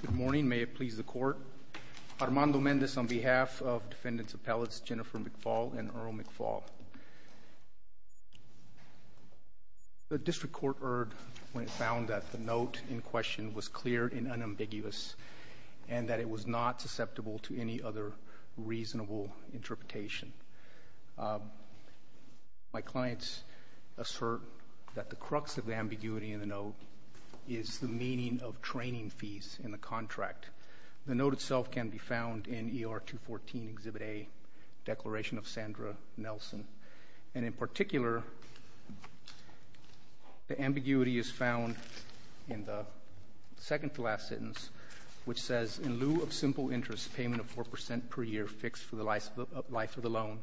Good morning, may it please the court. Armando Mendez on behalf of defendants appellates Jennifer McFall and Earl McFall. The district court erred when it found that the note in question was clear and unambiguous and that it was not susceptible to any other reasonable interpretation. My clients assert that the crux of the ambiguity in the note is the meaning of training fees in the contract. The note itself can be found in ER 214 Exhibit A, Declaration of Sandra Nelson, and in particular the ambiguity is found in the second to last sentence which says, in lieu of simple interest payment of 4% per year fixed for the life of the loan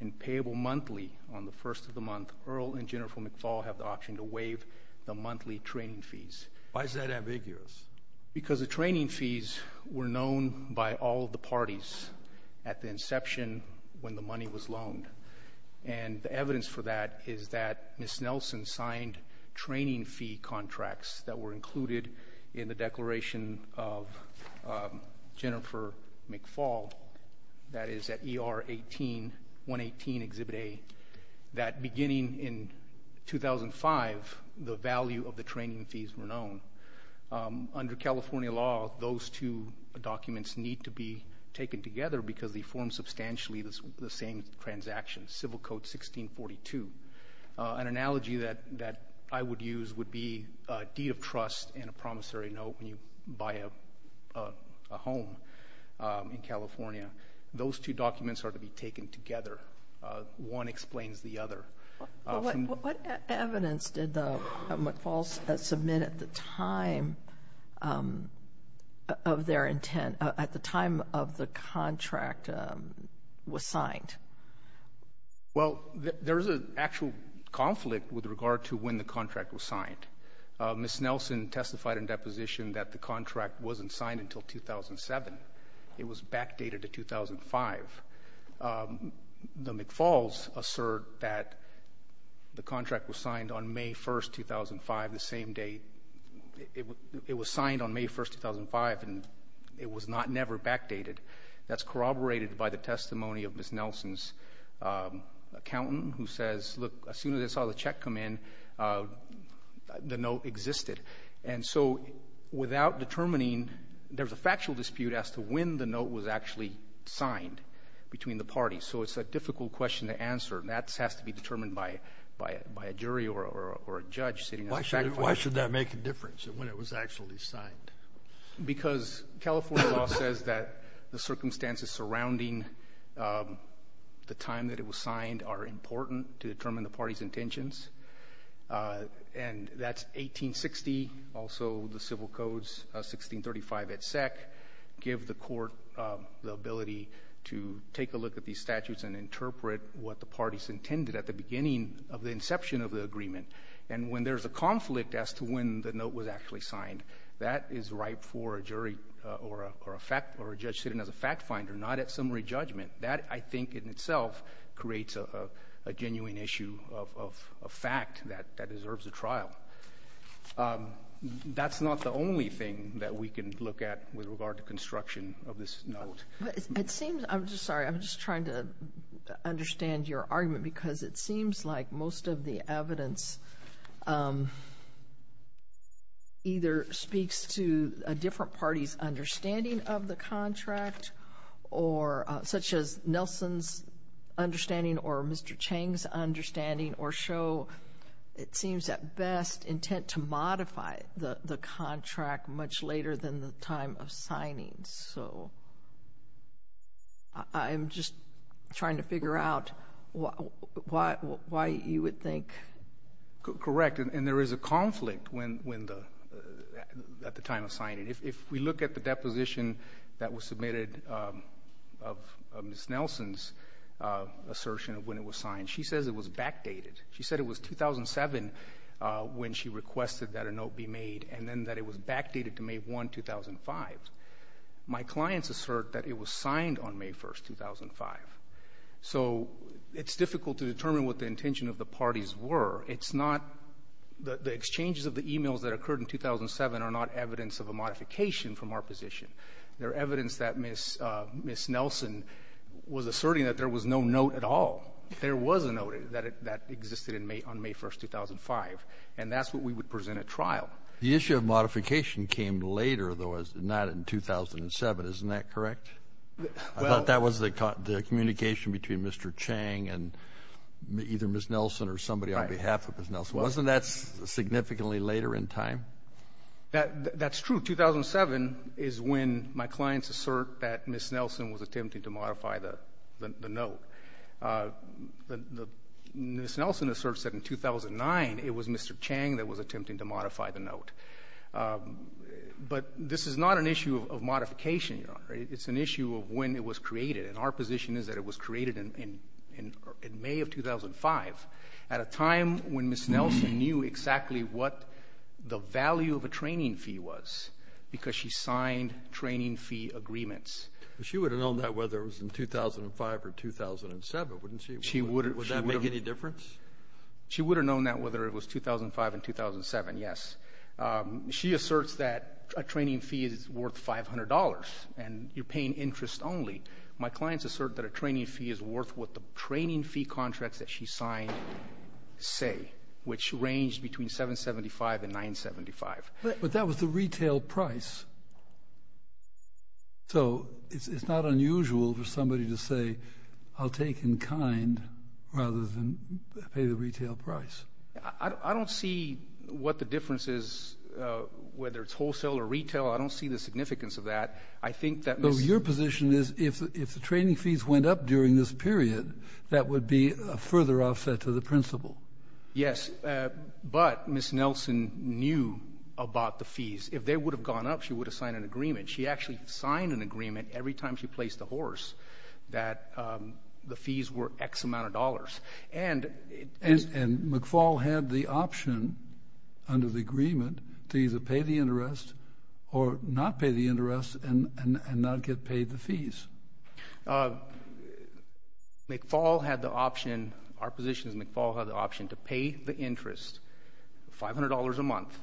and payable monthly on the first of the month, Earl and Jennifer are asking to waive the monthly training fees. Why is that ambiguous? Because the training fees were known by all the parties at the inception when the money was loaned and the evidence for that is that Ms. Nelson signed training fee contracts that were included in the Declaration of Jennifer McFall, that is at ER 118 Exhibit A, that beginning in 2005, the value of the training fees were known. Under California law, those two documents need to be taken together because they form substantially the same transaction, Civil Code 1642. An analogy that I would use would be a deed of trust in a California. Those two documents are to be taken together. One explains the other. What evidence did the McFalls submit at the time of their intent, at the time of the contract was signed? Well, there's an actual conflict with regard to when the contract was signed. Ms. Nelson testified in deposition that the contract wasn't signed until 2007. It was backdated to 2005. The McFalls assert that the contract was signed on May 1st, 2005, the same day. It was signed on May 1st, 2005, and it was never backdated. That's corroborated by the testimony of Ms. Nelson's accountant who says, look, as soon as I saw the check come in, the note existed. And so without determining, there's a factual dispute as to when the note was actually signed between the parties. So it's a difficult question to answer, and that has to be determined by a jury or a judge sitting at the back of the court. Why should that make a difference, when it was actually signed? Because California law says that the circumstances surrounding the time that it was signed are important to determine the party's intentions. And that's 1860, also the civil codes, 1635 et sec, give the court the ability to take a look at these statutes and interpret what the parties intended at the beginning of the inception of the agreement. And when there's a conflict as to when the note was actually signed, that is ripe for a jury or a fact or a judge sitting as a fact finder, not at summary a fact that deserves a trial. That's not the only thing that we can look at with regard to construction of this note. But it seems — I'm sorry. I'm just trying to understand your argument, because it seems like most of the evidence either speaks to a different party's understanding of the contract or — such as Nelson's understanding or show, it seems, at best, intent to modify the contract much later than the time of signing. So I'm just trying to figure out why you would think — Correct. And there is a conflict when the — at the time of signing. If we look at the deposition that was submitted of Ms. Nelson's assertion of when it was signed, she says it was backdated. She said it was 2007 when she requested that a note be made, and then that it was backdated to May 1, 2005. My clients assert that it was signed on May 1, 2005. So it's difficult to determine what the intention of the parties were. It's not — the exchanges of the e-mails that occurred in 2007 are not evidence of a modification from our position. They're evidence that Ms. — Ms. Nelson was asserting that there was no note at all. There was a note that existed in May — on May 1, 2005. And that's what we would present at trial. The issue of modification came later, though, as not in 2007. Isn't that correct? Well — I thought that was the communication between Mr. Chang and either Ms. Nelson or somebody on behalf of Ms. Nelson. Wasn't that significantly later in time? That's true. 2007 is when my clients assert that Ms. Nelson was attempting to modify the — the note. The — Ms. Nelson asserts that in 2009, it was Mr. Chang that was attempting to modify the note. But this is not an issue of modification, Your Honor. It's an issue of when it was created. And our position is that it was created in — in May of 2005, at a time when Ms. Nelson knew exactly what the value of a training fee was, because she signed training fee agreements. But she would have known that whether it was in 2005 or 2007, wouldn't she? She would have. Would that make any difference? She would have known that whether it was 2005 and 2007, yes. She asserts that a training fee is worth $500, and you're paying interest only. My clients assert that a training fee is worth what the training fee contracts that she signed say, which ranged between $775 and $975. But that was the retail price. So it's — it's not unusual for somebody to say, I'll take in kind, rather than pay the retail price. I don't see what the difference is, whether it's wholesale or retail. I don't see the significance of that. I think that — So your position is, if the — if the training fees went up during this period, that would be a further offset to the principal. Yes. But Ms. Nelson knew about the fees. If they would have gone up, she would have signed an agreement. She actually signed an agreement every time she placed a horse that the fees were X amount of dollars. And it — And McFaul had the option under the agreement to either pay the interest or not pay the interest and not get paid the fees. McFaul had the option — our position is McFaul had the option to pay the interest $500 a month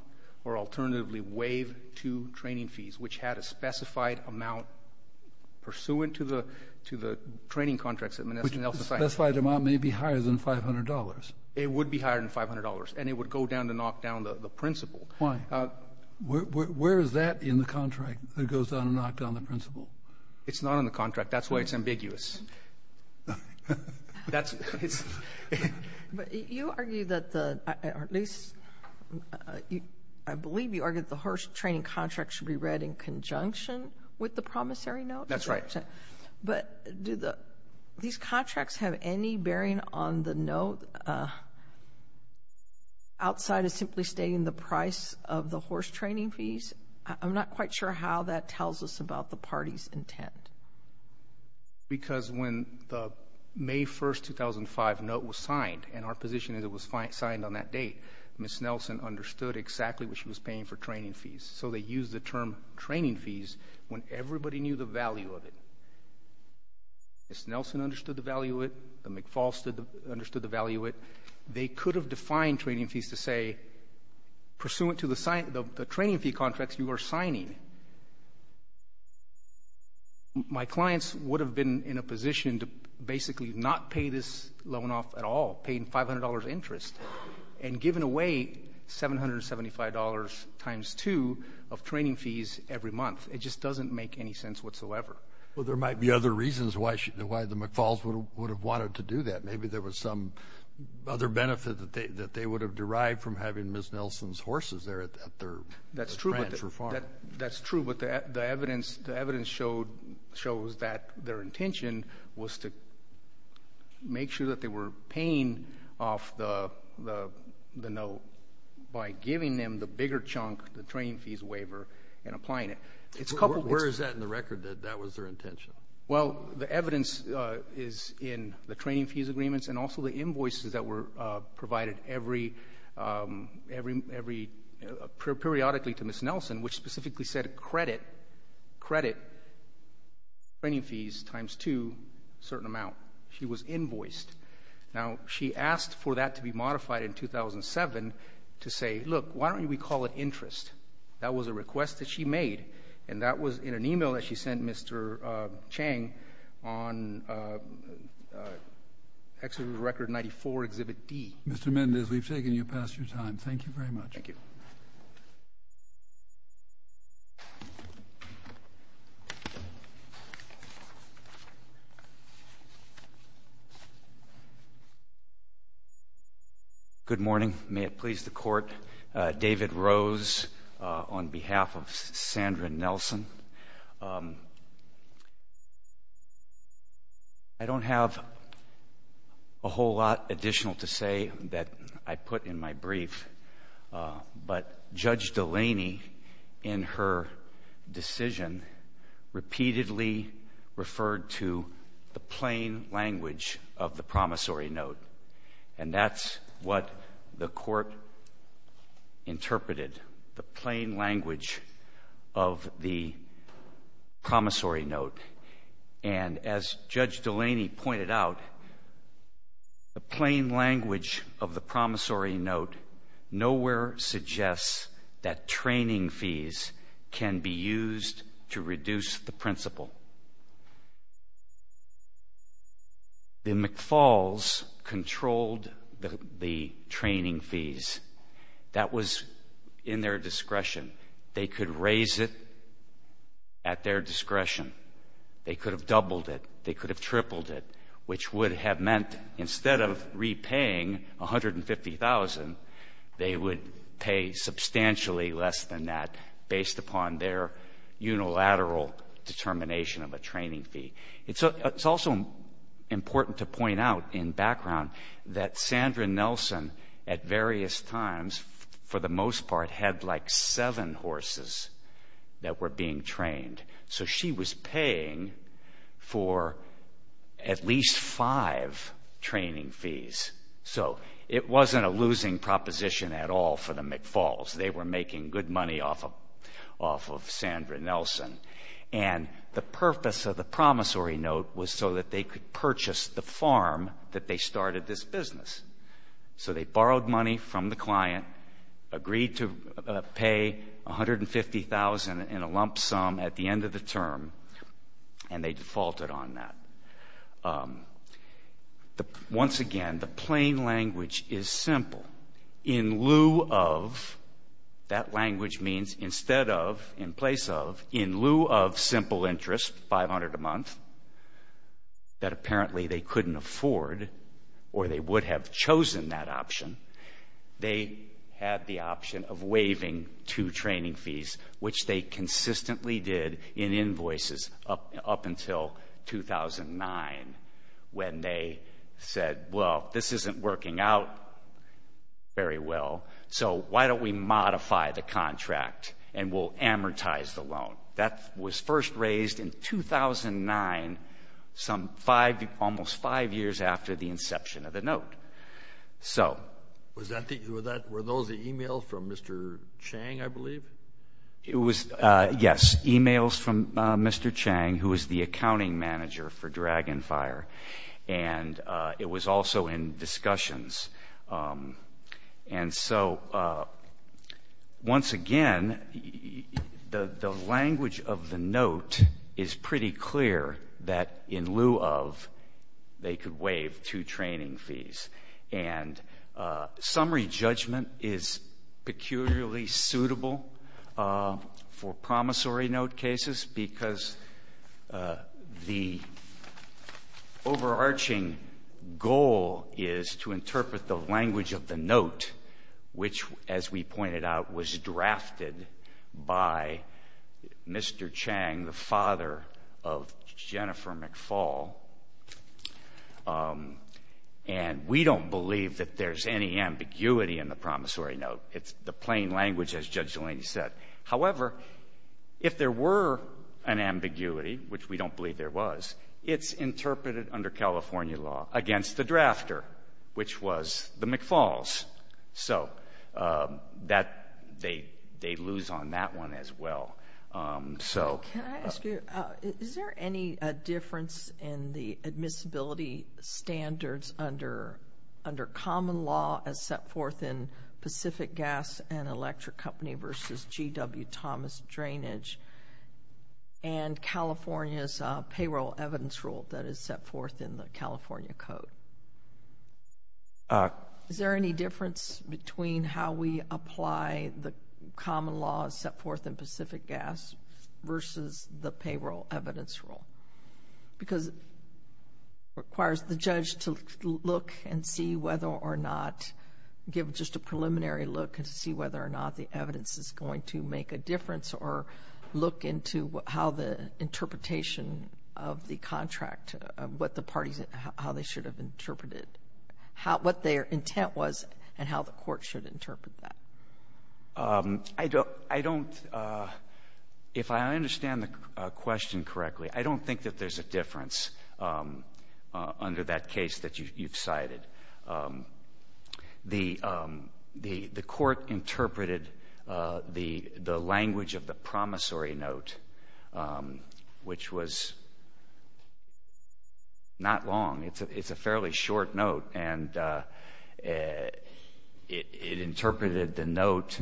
and gave two training fees, which had a specified amount pursuant to the — to the training contracts that Ms. Nelson signed. Which the specified amount may be higher than $500. It would be higher than $500. And it would go down to knock down the principal. Why? Where is that in the contract, that it goes down to knock down the principal? It's not in the contract. That's why it's ambiguous. That's — But you argue that the — or at least I believe you argue that the horse training contracts should be read in conjunction with the promissory note. That's right. But do the — these contracts have any bearing on the note outside of simply stating the price of the horse training fees? I'm not quite sure how that tells us about the party's intent. Because when the May 1, 2005, note was signed, and our position is it was signed on that date, Ms. Nelson understood exactly what she was paying for training fees. So they used the term training fees when everybody knew the value of it. Ms. Nelson understood the value of it. The McFaul understood the value of it. They could have defined training fees to say, pursuant to the signing — the training fee contracts you are signing, my clients would have been in a position to basically not pay this loan off at all, pay $500 interest, and given away $775 times two of training fees every month. It just doesn't make any sense whatsoever. Well, there might be other reasons why the McFauls would have wanted to do that. Maybe there was some other benefit that they would have derived from having Ms. Nelson's horses there at their — That's true, but the evidence shows that their intention was to make sure that they were paying off the note by giving them the bigger chunk, the training fees waiver, and applying it. Where is that in the record, that that was their intention? Well, the evidence is in the training fees agreements and also the invoices that were specifically said credit — credit training fees times two, a certain amount. She was invoiced. Now, she asked for that to be modified in 2007 to say, look, why don't we call it interest? That was a request that she made, and that was in an e-mail that she sent Mr. Chang on Exhibit Record 94, Exhibit D. Mr. Mendez, we've taken you past your time. Thank you very much. Thank you. Good morning. May it please the Court. David Rose on behalf of Sandra Nelson. I don't have a whole lot additional to say that I put in my brief, but Judge Delaney in her decision repeatedly referred to the plain language of the promissory note, and that's what the Court interpreted, the plain language of the promissory note. And as Judge Delaney pointed out, the plain language of the promissory note nowhere suggests that training fees can be used to reduce the principal. The McFalls controlled the training fees. That was in their discretion. They could raise it at their discretion. They could have doubled it. They could have tripled it, which would have meant instead of repaying $150,000, they would pay substantially less than that based upon their unilateral determination of a training fee. It's also important to point out in background that Sandra Nelson at various times, for the most part, had like seven horses that were being trained. So she was paying for at least five training fees. So it wasn't a losing proposition at all for the McFalls. They were making good money off of Sandra Nelson. And the purpose of the promissory note was so that they could purchase the farm that they started this business. So they borrowed money from the client, agreed to pay $150,000 in a lump sum at the end of the term, and they defaulted on that. Once again, the plain language is simple. In lieu of, that language means instead of, in place of, in lieu of simple interest, $500 a month, that apparently they couldn't afford or they would have chosen that option, they had the option of waiving two training fees, which they consistently did in invoices up until 2009 when they said, well, this isn't working out very well, so why don't we modify the contract and we'll amortize the loan. That was first raised in 2009, some five, almost five years after the inception of the note. So. It was, yes, emails from Mr. Chang, who was the accounting manager for Dragonfire, and it was also in discussions. And so, once again, the language of the note is pretty clear that in lieu of, they could waive two training fees. And summary judgment is peculiarly suitable for promissory note cases because the overarching goal is to interpret the language of the note, which, as we pointed out, was drafted by Mr. Chang, the father of Jennifer McFall. And we don't believe that there's any ambiguity in the promissory note. It's the plain language, as Judge Delaney said. However, if there were an ambiguity, which we don't believe there was, it's interpreted under California law against the drafter, which was the McFalls. So that, they lose on that one as well. Can I ask you, is there any difference in the admissibility standards under common law as set forth in Pacific Gas and Electric Company versus GW Thomas Drainage and California's payroll evidence rule that is set forth in the California Code? Is there any difference between how we apply the common law as set forth in Pacific Gas versus the payroll evidence rule? Because it requires the judge to look and see whether or not, give just a preliminary look and see whether or not the evidence is going to make a difference or look into how the interpretation of the contract, what the parties, how they should have interpreted what their intent was and how the court should interpret that. I don't, if I understand the question correctly, I don't think that there's a difference under that case that you've cited. The court interpreted the language of the promissory note, which was not long. It's a fairly short note. And it interpreted the note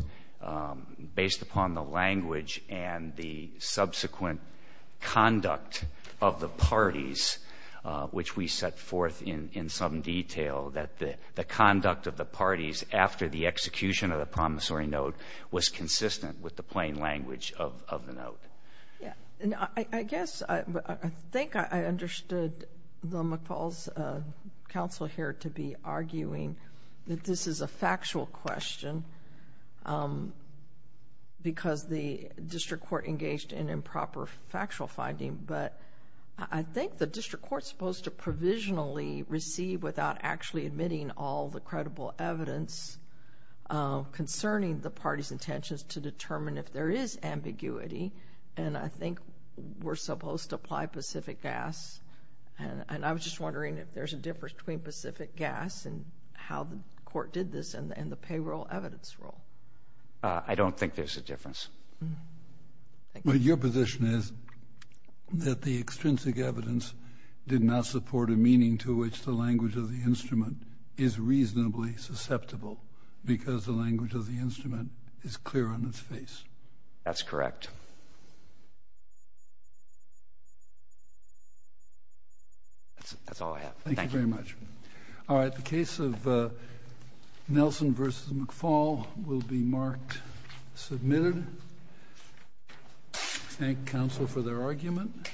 based upon the language and the subsequent conduct of the parties after the execution of the promissory note was consistent with the plain language of the note. Yeah. And I guess, I think I understood the McFaul's counsel here to be arguing that this is a factual question because the district court engaged in improper factual finding. But I think the district court is supposed to provisionally receive without actually admitting all the credible evidence concerning the party's intentions to determine if there is ambiguity. And I think we're supposed to apply Pacific Gas. And I was just wondering if there's a difference between Pacific Gas and how the court did this and the payroll evidence rule. I don't think there's a difference. But your position is that the extrinsic evidence did not support a meaning to which the language of the instrument is reasonably susceptible because the language of the instrument is clear on its face. That's correct. That's all I have. Thank you very much. All right. The case of Nelson v. McFaul will be marked submitted. Thank counsel for their argument.